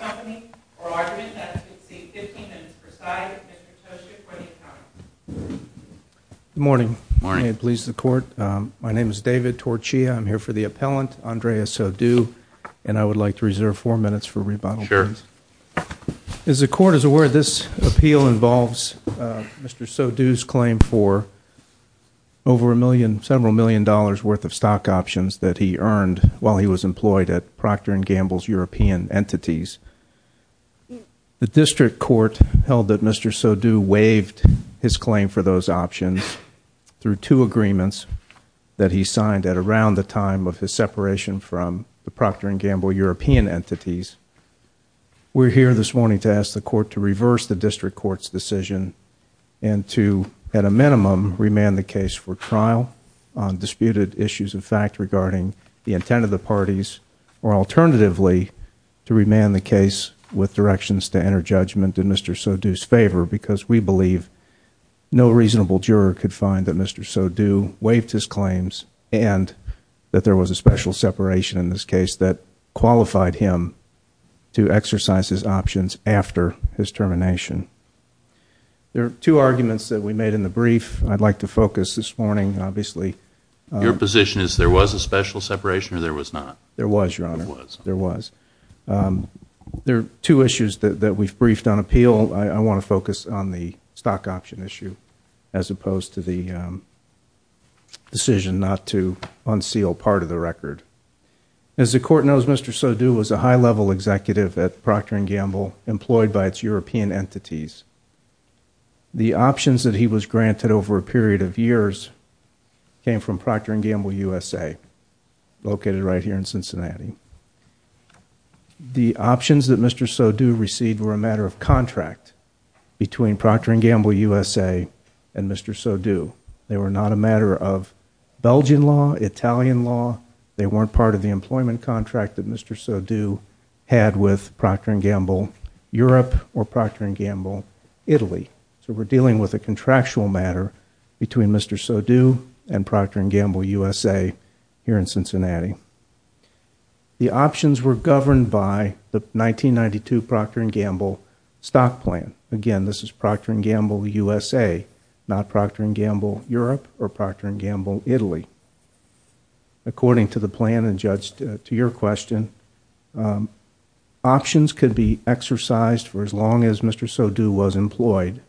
Company, oral argument that is conceived 15 minutes per side. Mr. Toshio for the accountants. Good morning. May it please the court. My name is David Torchia. I'm here for the appellant, Andrea Soudou, and I would like to reserve four minutes for rebuttal, please. As the court is aware, this appeal involves Mr. Soudou's claim for over a million, several million dollars worth of stock options that he earned while he was employed at Proctor and Gamble's European entities. The district court held that Mr. Soudou waived his claim for those options through two agreements that he signed at around the time of his separation from the Proctor and Gamble European entities. We're here this morning to ask the court to reverse the district court's decision and to, at a minimum, remand the case for trial on disputed issues of fact regarding the intent of the parties, or alternatively, to remand the case with directions to enter judgment in Mr. Soudou's favor, because we believe no reasonable juror could find that Mr. Soudou waived his claims and that there was a special separation in this case that qualified him to exercise his options after his termination. There are two arguments that we made in the brief I'd like to focus this morning, obviously. Your position is there was a special separation or there was not? There was, Your Honor. There was. It was on the stock option issue as opposed to the decision not to unseal part of the record. As the court knows, Mr. Soudou was a high-level executive at Proctor and Gamble employed by its European entities. The options that he was granted over a period of years came from Proctor and Gamble USA, located right here in Cincinnati. The options that Mr. Soudou received were a matter of contract between Proctor and Gamble USA and Mr. Soudou. They were not a matter of Belgian law, Italian law. They weren't part of the employment contract that Mr. Soudou had with Proctor and Gamble Europe or Proctor and Gamble Italy. So we're dealing with a contractual matter between Mr. Soudou and Proctor and Gamble USA here in Cincinnati. The options were governed by the 1992 Proctor and Gamble stock plan. Again, this is Proctor and Gamble USA, not Proctor and Gamble Europe or Proctor and Gamble Italy. According to the plan and, Judge, to your question, options could be exercised for as long as Mr. Soudou was employed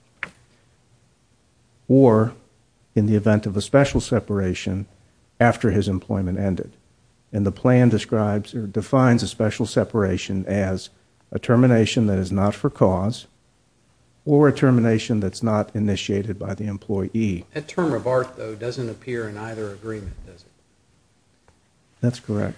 or in the event of a special separation after his employment ended. And the plan describes or defines a special separation as a termination that is not for cause or a termination that's not initiated by the employee. That term of art, though, doesn't appear in either agreement, does it? That's correct.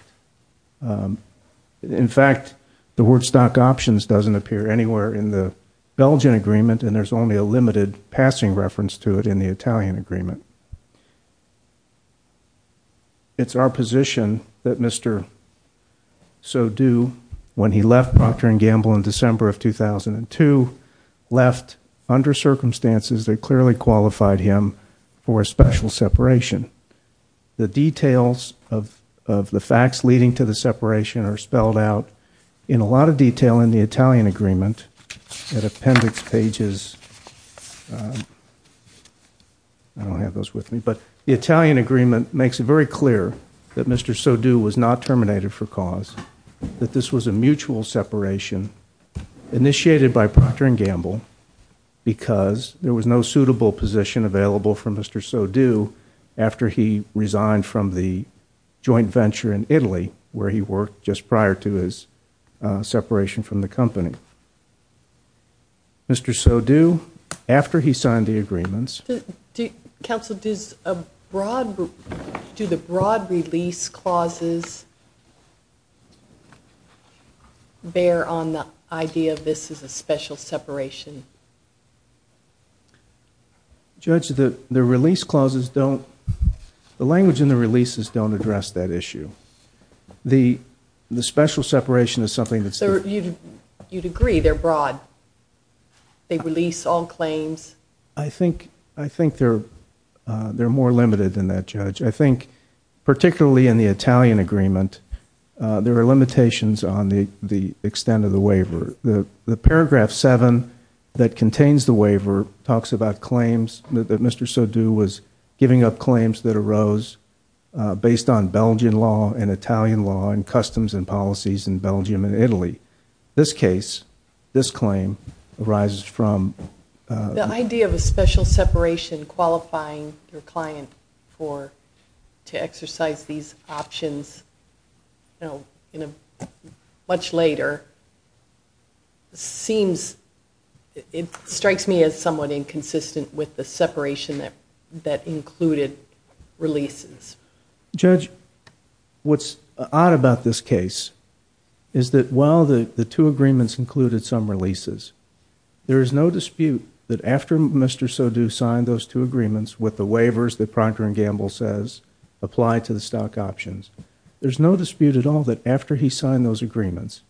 In fact, the word stock options doesn't appear anywhere in the Belgian agreement, and there's only a limited passing reference to it in the Italian agreement. It's our position that Mr. Soudou, when he left Proctor and Gamble in December of 2002, left under circumstances that clearly qualified him for a special separation. The details of the facts leading to the separation are spelled out in a lot of detail in the Italian agreement at appendix pages. I don't have those with me. But the Italian agreement makes it very clear that Mr. Soudou was not terminated for cause, that this was a mutual separation initiated by Proctor and Gamble because there was no suitable position available for Mr. Soudou after he resigned from the joint venture in Italy where he worked just prior to his separation from the company. Mr. Soudou, after he signed the agreements... Counsel, do the broad release clauses bear on the idea of this as a special separation? Judge, the language in the releases don't address that issue. The special separation is something that's... You'd agree they're broad. They release all claims. I think they're more limited than that, Judge. I think particularly in the Italian agreement, there are limitations on the extent of the waiver. The paragraph 7 that contains the waiver talks about claims, that Mr. Soudou was giving up claims that arose based on Belgian law and Italian law and customs and policies in Belgium and Italy. This case, this claim, arises from... The idea of a special separation qualifying your client to exercise these options much later strikes me as somewhat inconsistent with the separation that included releases. Judge, what's odd about this case is that while the two agreements included some releases, there is no dispute that after Mr. Soudou signed those two agreements with the waivers that Procter & Gamble says apply to the stock options, there's no dispute at all that after he signed those agreements,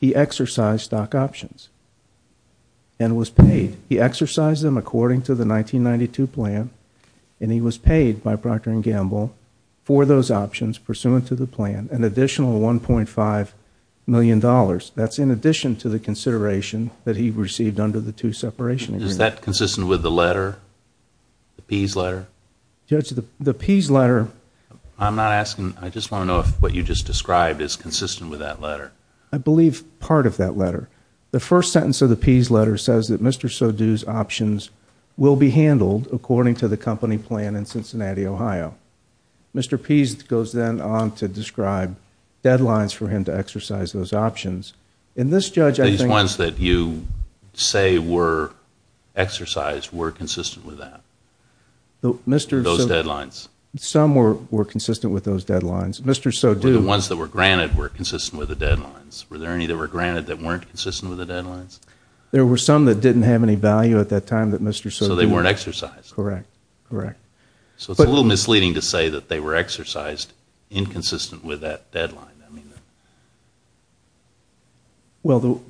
he exercised stock options and was paid. He exercised them according to the 1992 plan, and he was paid by Procter & Gamble for those options pursuant to the plan, an additional $1.5 million. That's in addition to the consideration that he received under the two separation agreements. Is that consistent with the letter, the Pease letter? Judge, the Pease letter... I'm not asking... I just want to know if what you just described is consistent with that letter. I believe part of that letter. The first sentence of the Pease letter says that Mr. Soudou's options will be handled according to the company plan in Cincinnati, Ohio. Mr. Pease goes then on to describe deadlines for him to exercise those options. These ones that you say were exercised were consistent with that, those deadlines? Some were consistent with those deadlines. The ones that were granted were consistent with the deadlines. Were there any that were granted that weren't consistent with the deadlines? There were some that didn't have any value at that time that Mr. Soudou... So they weren't exercised. Correct, correct. So it's a little misleading to say that they were exercised inconsistent with that deadline. Well,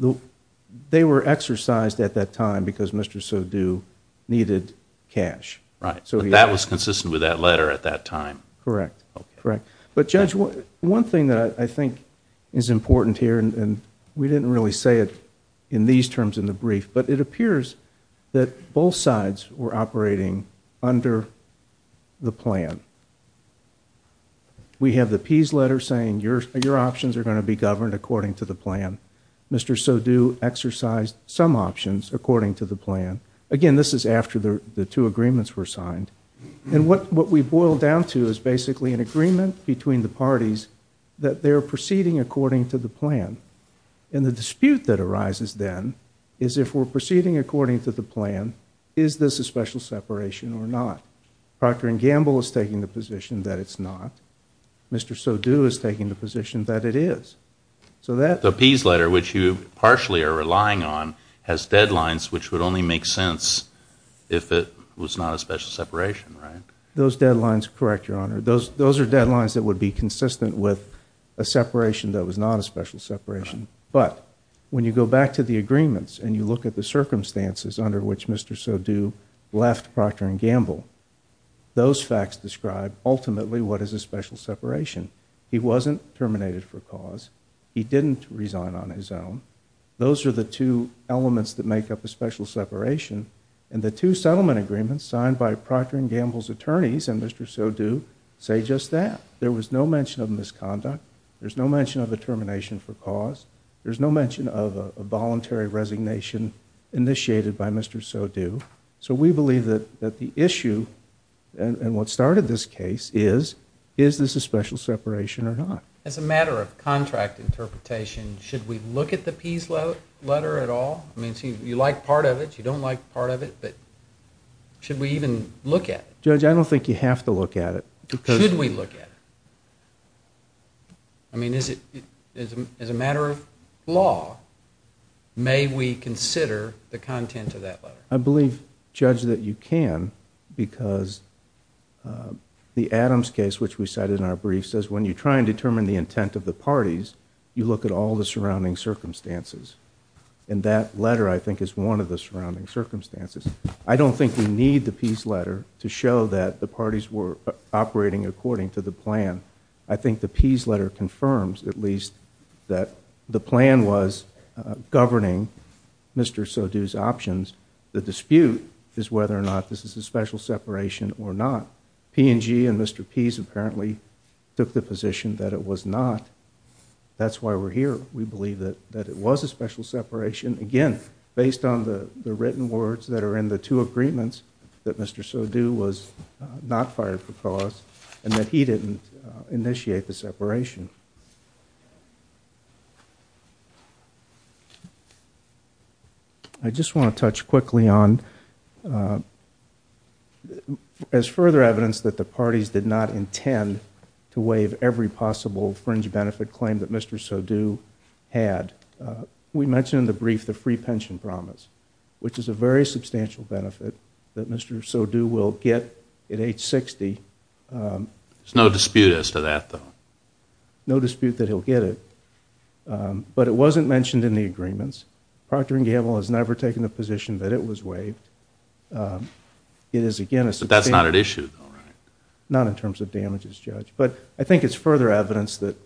they were exercised at that time because Mr. Soudou needed cash. Right, but that was consistent with that letter at that time. Correct, correct. But Judge, one thing that I think is important here, and we didn't really say it in these terms in the brief, but it appears that both sides were operating under the plan. We have the Pease letter saying your options are going to be governed according to the plan. Mr. Soudou exercised some options according to the plan. Again, this is after the two agreements were signed. And what we boil down to is basically an agreement between the parties that they're proceeding according to the plan. And the dispute that arises then is if we're proceeding according to the plan, is this a special separation or not? Procter & Gamble is taking the position that it's not. Mr. Soudou is taking the position that it is. The Pease letter, which you partially are relying on, has deadlines which would only make sense if it was not a special separation, right? Those deadlines, correct, Your Honor. Those are deadlines that would be consistent with a separation that was not a special separation. But when you go back to the agreements and you look at the circumstances under which Mr. Soudou left Procter & Gamble, those facts describe ultimately what is a special separation. He wasn't terminated for cause. He didn't resign on his own. Those are the two elements that make up a special separation. And the two settlement agreements signed by Procter & Gamble's attorneys and Mr. Soudou say just that. There was no mention of misconduct. There's no mention of a termination for cause. There's no mention of a voluntary resignation initiated by Mr. Soudou. So we believe that the issue and what started this case is, is this a special separation or not? As a matter of contract interpretation, should we look at the Pease letter at all? I mean, you like part of it, you don't like part of it, but should we even look at it? Judge, I don't think you have to look at it. Should we look at it? I mean, as a matter of law, may we consider the content of that letter? I believe, Judge, that you can because the Adams case, which we cited in our brief, says when you try and determine the intent of the parties, you look at all the surrounding circumstances. And that letter, I think, is one of the surrounding circumstances. I don't think we need the Pease letter to show that the parties were operating according to the plan. I think the Pease letter confirms, at least, that the plan was governing Mr. Soudou's options. The dispute is whether or not this is a special separation or not. P&G and Mr. Pease apparently took the position that it was not. That's why we're here. We believe that it was a special separation, again, based on the written words that are in the two agreements that Mr. Soudou was not fired for cause and that he didn't initiate the separation. I just want to touch quickly on, as further evidence that the parties did not intend to waive every possible fringe benefit claim that Mr. Soudou had, we mentioned in the brief the free pension promise, which is a very substantial benefit that Mr. Soudou will get at age 60. There's no dispute as to that, though. No dispute that he'll get it. But it wasn't mentioned in the agreements. Procter & Gamble has never taken the position that it was waived. But that's not at issue, though, right? Not in terms of damages, Judge. But I think it's further evidence that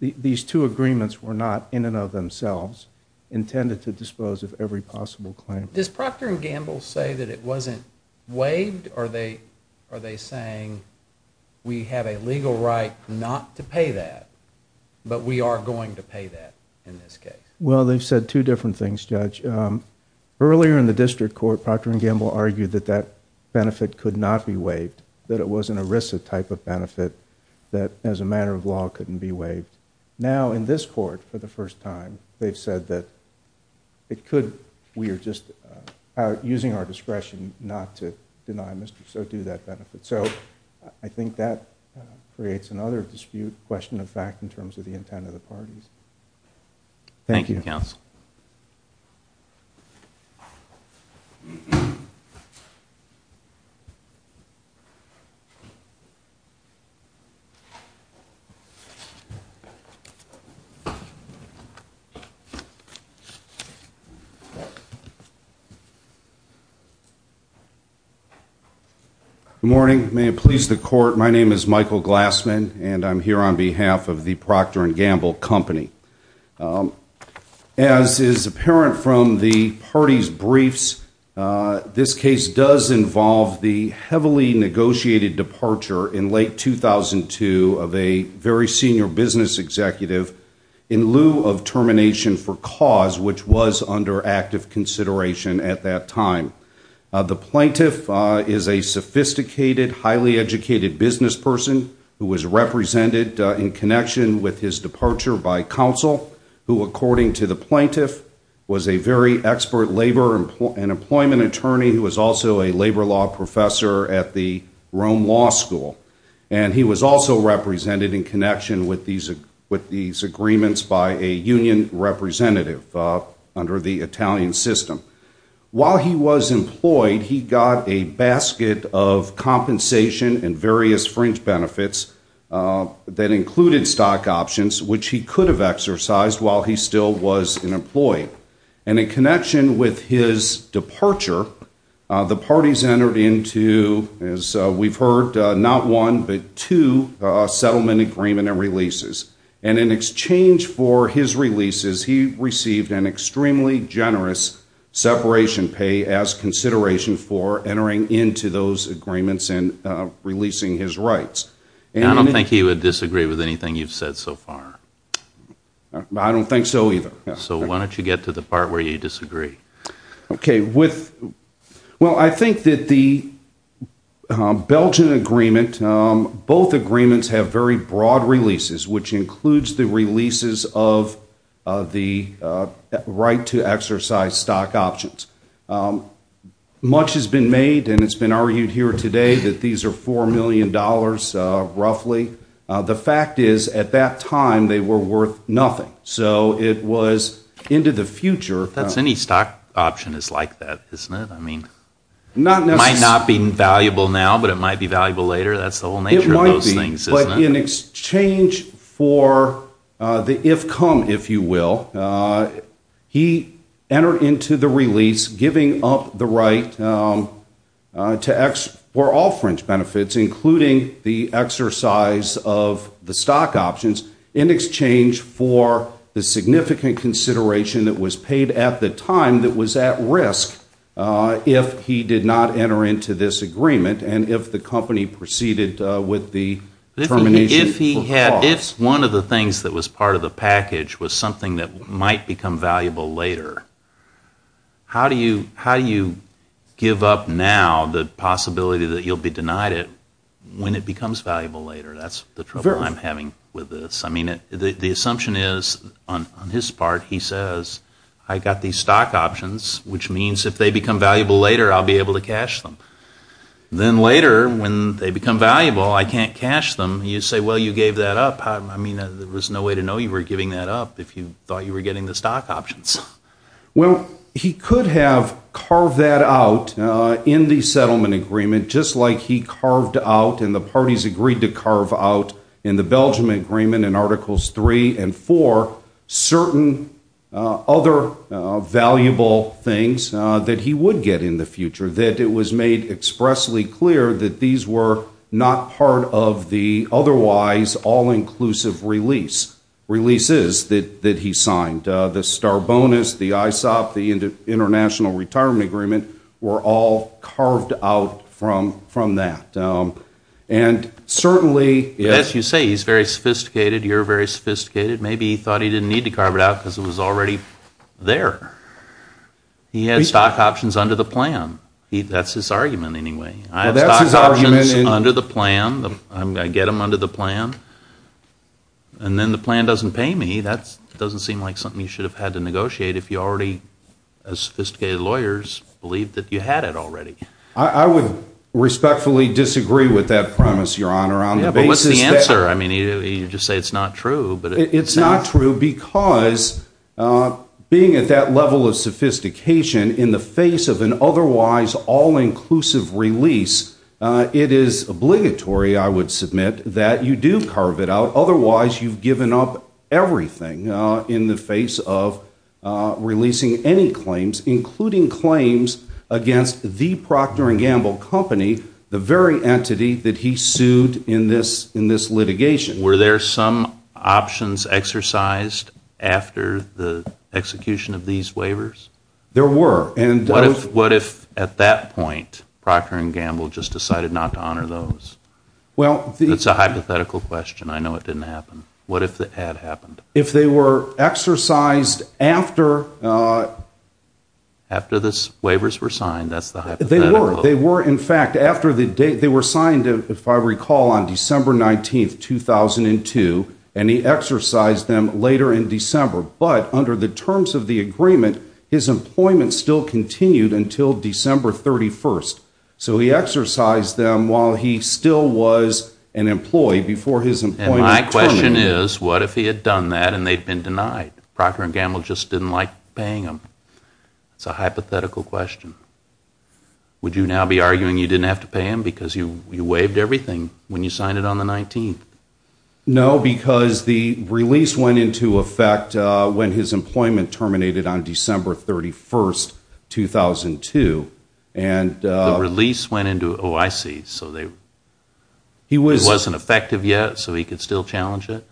these two agreements were not, in and of themselves, intended to dispose of every possible claim. Does Procter & Gamble say that it wasn't waived? Or are they saying, we have a legal right not to pay that, but we are going to pay that in this case? Well, they've said two different things, Judge. Earlier in the district court, Procter & Gamble argued that that benefit could not be waived, that it was an ERISA type of benefit that, as a matter of law, couldn't be waived. Now, in this court, for the first time, they've said that it could. We are just using our discretion not to deny Mr. Soudou that benefit. So I think that creates another dispute, question of fact, in terms of the intent of the parties. Thank you, counsel. Thank you. Good morning. May it please the court, my name is Michael Glassman, and I'm here on behalf of the Procter & Gamble Company. As is apparent from the parties' briefs, this case does involve the heavily negotiated departure in late 2002 of a very senior business executive in lieu of termination for cause, which was under active consideration at that time. The plaintiff is a sophisticated, highly educated business person who was represented in connection with his departure by counsel, who, according to the plaintiff, was a very expert labor and employment attorney who was also a labor law professor at the Rome Law School. And he was also represented in connection with these agreements by a union representative under the Italian system. While he was employed, he got a basket of compensation and various fringe benefits that included stock options, which he could have exercised while he still was an employee. And in connection with his departure, the parties entered into, as we've heard, not one but two settlement agreement and releases. And in exchange for his releases, he received an extremely generous separation pay as consideration for entering into those agreements and releasing his rights. And I don't think he would disagree with anything you've said so far. I don't think so either. So why don't you get to the part where you disagree? Okay. Well, I think that the Belgian agreement, both agreements have very broad releases, which includes the releases of the right to exercise stock options. Much has been made, and it's been argued here today that these are $4 million roughly. The fact is, at that time, they were worth nothing. So it was into the future. That's any stock option is like that, isn't it? I mean, it might not be valuable now, but it might be valuable later. That's the whole nature of those things, isn't it? It might be. In exchange for the if-come, if you will, he entered into the release, giving up the right for all fringe benefits, including the exercise of the stock options, in exchange for the significant consideration that was paid at the time that was at risk if he did not enter into this agreement and if the company proceeded with the termination of the clause. If one of the things that was part of the package was something that might become valuable later, how do you give up now the possibility that you'll be denied it when it becomes valuable later? That's the trouble I'm having with this. I mean, the assumption is, on his part, he says, I got these stock options, which means if they become valuable later, I'll be able to cash them. Then later, when they become valuable, I can't cash them. You say, well, you gave that up. I mean, there was no way to know you were giving that up if you thought you were getting the stock options. Well, he could have carved that out in the settlement agreement, just like he carved out and the parties agreed to carve out in the Belgium agreement in Articles 3 and 4 certain other valuable things that he would get in the future, that it was made expressly clear that these were not part of the otherwise all-inclusive releases that he signed. The Starbonus, the ISOP, the International Retirement Agreement were all carved out from that. As you say, he's very sophisticated, you're very sophisticated. Maybe he thought he didn't need to carve it out because it was already there. He had stock options under the plan. That's his argument anyway. I have stock options under the plan. I get them under the plan. And then the plan doesn't pay me. That doesn't seem like something you should have had to negotiate if you already, as sophisticated lawyers, believed that you had it already. I would respectfully disagree with that premise, Your Honor. But what's the answer? You just say it's not true. It's not true because being at that level of sophistication in the face of an otherwise all-inclusive release, it is obligatory, I would submit, that you do carve it out. Otherwise, you've given up everything in the face of releasing any claims, including claims against the Procter & Gamble company, the very entity that he sued in this litigation. Were there some options exercised after the execution of these waivers? There were. What if, at that point, Procter & Gamble just decided not to honor those? That's a hypothetical question. I know it didn't happen. What if it had happened? If they were exercised after… After the waivers were signed. That's the hypothetical. They were. In fact, they were signed, if I recall, on December 19, 2002, and he exercised them later in December. But under the terms of the agreement, his employment still continued until December 31. So he exercised them while he still was an employee before his employment term ended. And my question is, what if he had done that and they'd been denied? Procter & Gamble just didn't like paying him. It's a hypothetical question. Would you now be arguing you didn't have to pay him because you waived everything when you signed it on the 19th? No, because the release went into effect when his employment terminated on December 31, 2002. The release went into OIC, so it wasn't effective yet, so he could still challenge it?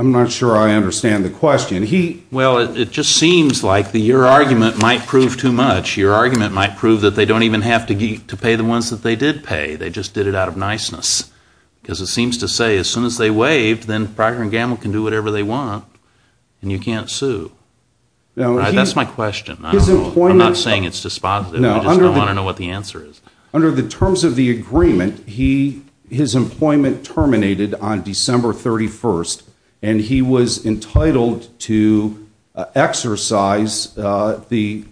I'm not sure I understand the question. Well, it just seems like your argument might prove too much. Your argument might prove that they don't even have to pay the ones that they did pay. They just did it out of niceness. Because it seems to say as soon as they waived, then Procter & Gamble can do whatever they want and you can't sue. That's my question. I'm not saying it's dispositive. I just don't want to know what the answer is. Under the terms of the agreement, his employment terminated on December 31, and he was entitled to exercise the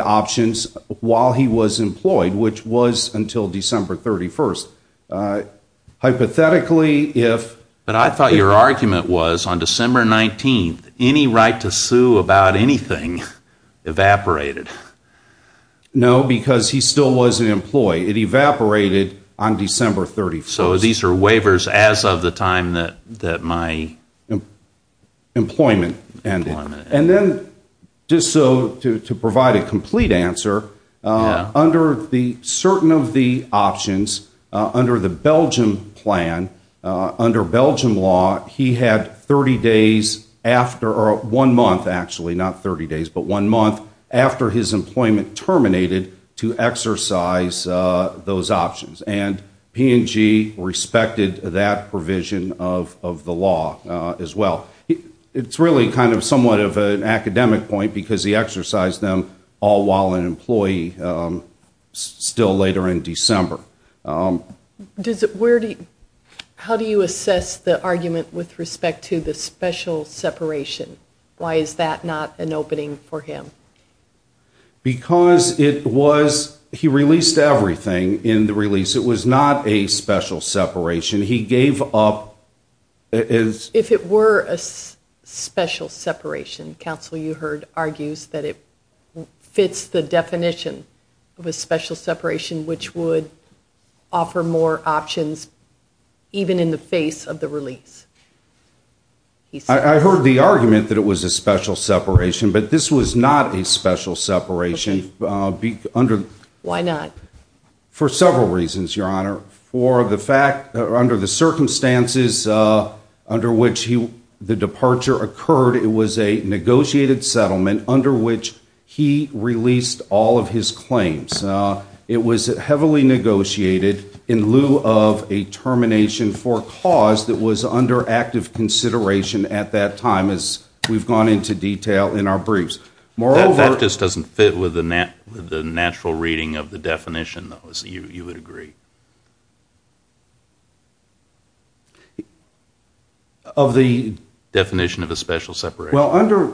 options while he was employed, which was until December 31. But I thought your argument was on December 19, any right to sue about anything evaporated. No, because he still was an employee. It evaporated on December 31. So these are waivers as of the time that my employment ended. And then just so to provide a complete answer, under certain of the options, under the Belgium plan, under Belgium law, he had 30 days after, or one month actually, not 30 days, but one month after his employment terminated to exercise those options. And P&G respected that provision of the law as well. It's really kind of somewhat of an academic point because he exercised them all while an employee, still later in December. How do you assess the argument with respect to the special separation? Why is that not an opening for him? Because he released everything in the release. It was not a special separation. He gave up. If it were a special separation, counsel, you heard argues that it fits the definition of a special separation, which would offer more options even in the face of the release. I heard the argument that it was a special separation, but this was not a special separation. Why not? For several reasons, Your Honor. For the fact that under the circumstances under which the departure occurred, it was a negotiated settlement under which he released all of his claims. It was heavily negotiated in lieu of a termination for a cause that was under active consideration at that time, as we've gone into detail in our briefs. That just doesn't fit with the natural reading of the definition, though, so you would agree? Of the definition of a special separation? Well, under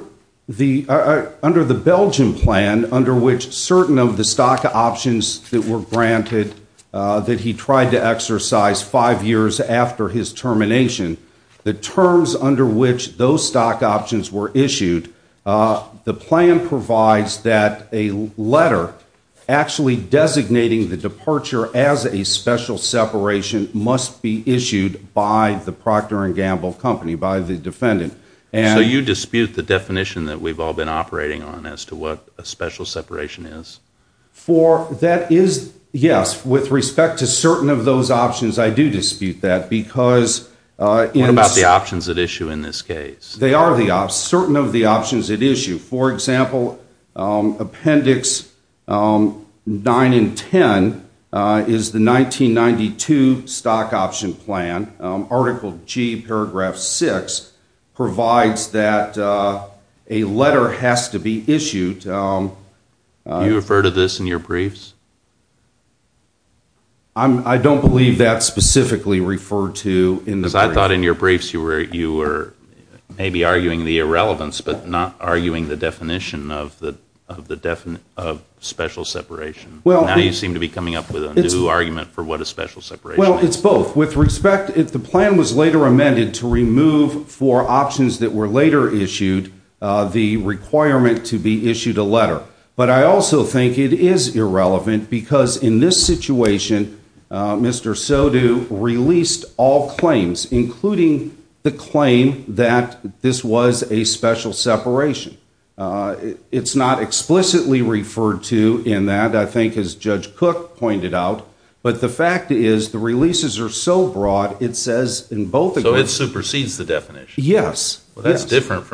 the Belgium plan, under which certain of the stock options that were granted that he tried to exercise five years after his termination, the terms under which those stock options were issued, the plan provides that a letter actually designating the departure as a special separation must be issued by the Procter & Gamble company, by the defendant. So you dispute the definition that we've all been operating on as to what a special separation is? Yes, with respect to certain of those options, I do dispute that. What about the options at issue in this case? They are certain of the options at issue. For example, Appendix 9 and 10 is the 1992 stock option plan. Article G, paragraph 6 provides that a letter has to be issued. Do you refer to this in your briefs? I don't believe that's specifically referred to in the briefs. You were maybe arguing the irrelevance but not arguing the definition of special separation. Now you seem to be coming up with a new argument for what a special separation is. Well, it's both. With respect, the plan was later amended to remove for options that were later issued the requirement to be issued a letter. But I also think it is irrelevant because in this situation, Mr. Sodu released all claims, including the claim that this was a special separation. It's not explicitly referred to in that, I think as Judge Cook pointed out. But the fact is, the releases are so broad, it says in both of them. So it supersedes the definition? Yes. Well, it's both.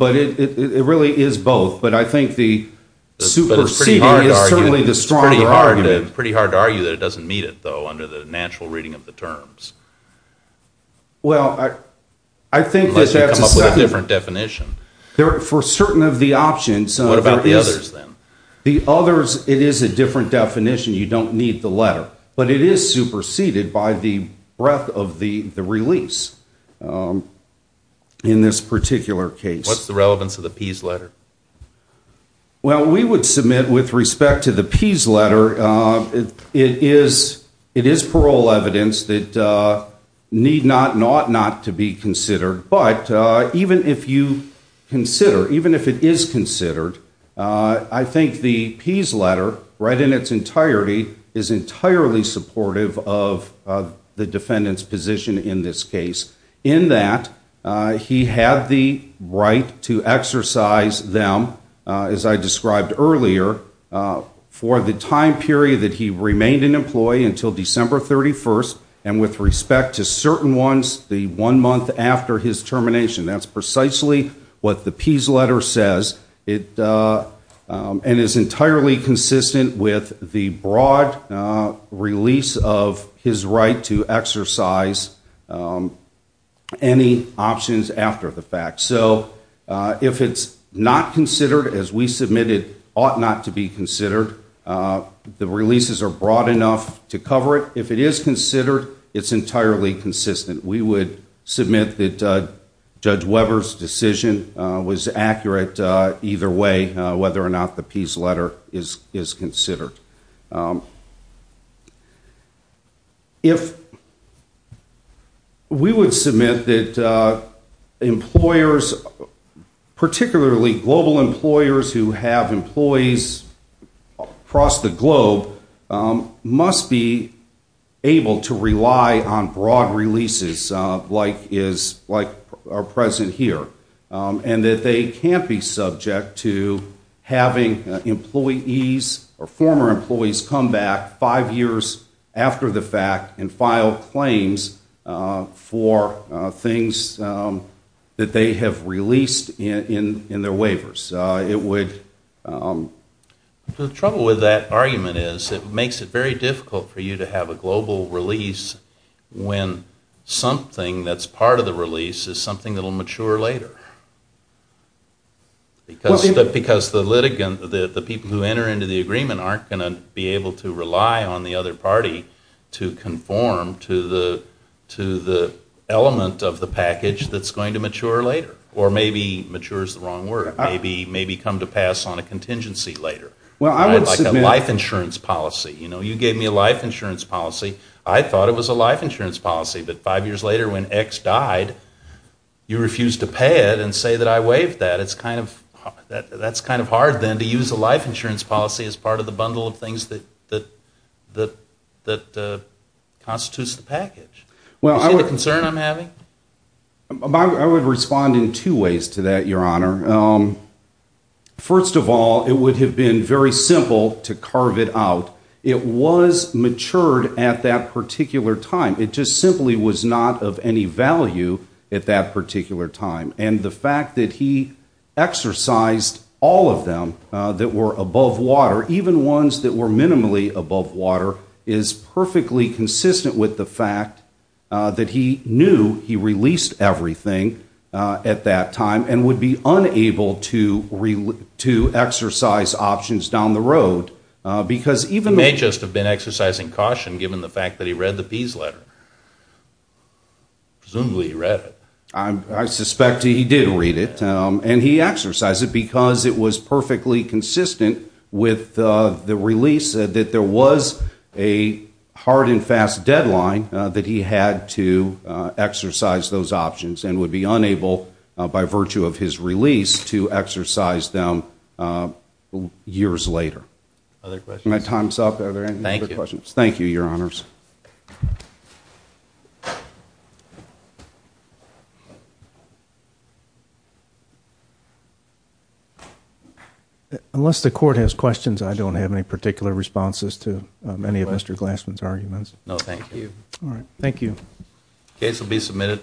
It really is both. But I think the superseding is certainly the stronger argument. It's pretty hard to argue that it doesn't meet it, though, under the natural reading of the terms. Well, I think that's a second. Unless you come up with a different definition. For certain of the options, there is. What about the others, then? The others, it is a different definition. You don't need the letter. But it is superseded by the breadth of the release in this particular case. What's the relevance of the Pease letter? Well, we would submit with respect to the Pease letter, it is parole evidence that need not, not, not to be considered. But even if you consider, even if it is considered, I think the Pease letter, read in its entirety, is entirely supportive of the defendant's position in this case. In that, he had the right to exercise them, as I described earlier, for the time period that he remained an employee until December 31st. And with respect to certain ones, the one month after his termination. That's precisely what the Pease letter says. And is entirely consistent with the broad release of his right to exercise any options after the fact. So, if it's not considered, as we submitted, ought not to be considered. The releases are broad enough to cover it. If it is considered, it's entirely consistent. We would submit that Judge Weber's decision was accurate either way, whether or not the Pease letter is considered. If, we would submit that employers, particularly global employers who have employees across the globe, must be able to rely on broad releases, like is, like are present here. And that they can't be subject to having employees, or former employees, come back five years after the fact and file claims for things that they have released in their waivers. The trouble with that argument is it makes it very difficult for you to have a global release when something that's part of the release is something that will mature later. Because the people who enter into the agreement aren't going to be able to rely on the other party to conform to the element of the package that's going to mature later. Or maybe, mature is the wrong word, maybe come to pass on a contingency later. Like a life insurance policy. You gave me a life insurance policy. I thought it was a life insurance policy. But five years later when X died, you refused to pay it and say that I waived that. That's kind of hard then to use a life insurance policy as part of the bundle of things that constitutes the package. You see the concern I'm having? I would respond in two ways to that, Your Honor. First of all, it would have been very simple to carve it out. It was matured at that particular time. It just simply was not of any value at that particular time. And the fact that he exercised all of them that were above water, even ones that were minimally above water, is perfectly consistent with the fact that he knew he released everything at that time and would be unable to exercise options down the road. He may just have been exercising caution given the fact that he read the Pease letter. Presumably he read it. I suspect he did read it. And he exercised it because it was perfectly consistent with the release that there was a hard and fast deadline that he had to exercise those options and would be unable, by virtue of his release, to exercise them years later. Are my times up? Thank you, Your Honors. Unless the court has questions, I don't have any particular responses to any of Mr. Glassman's arguments. No, thank you. All right. Case will be submitted.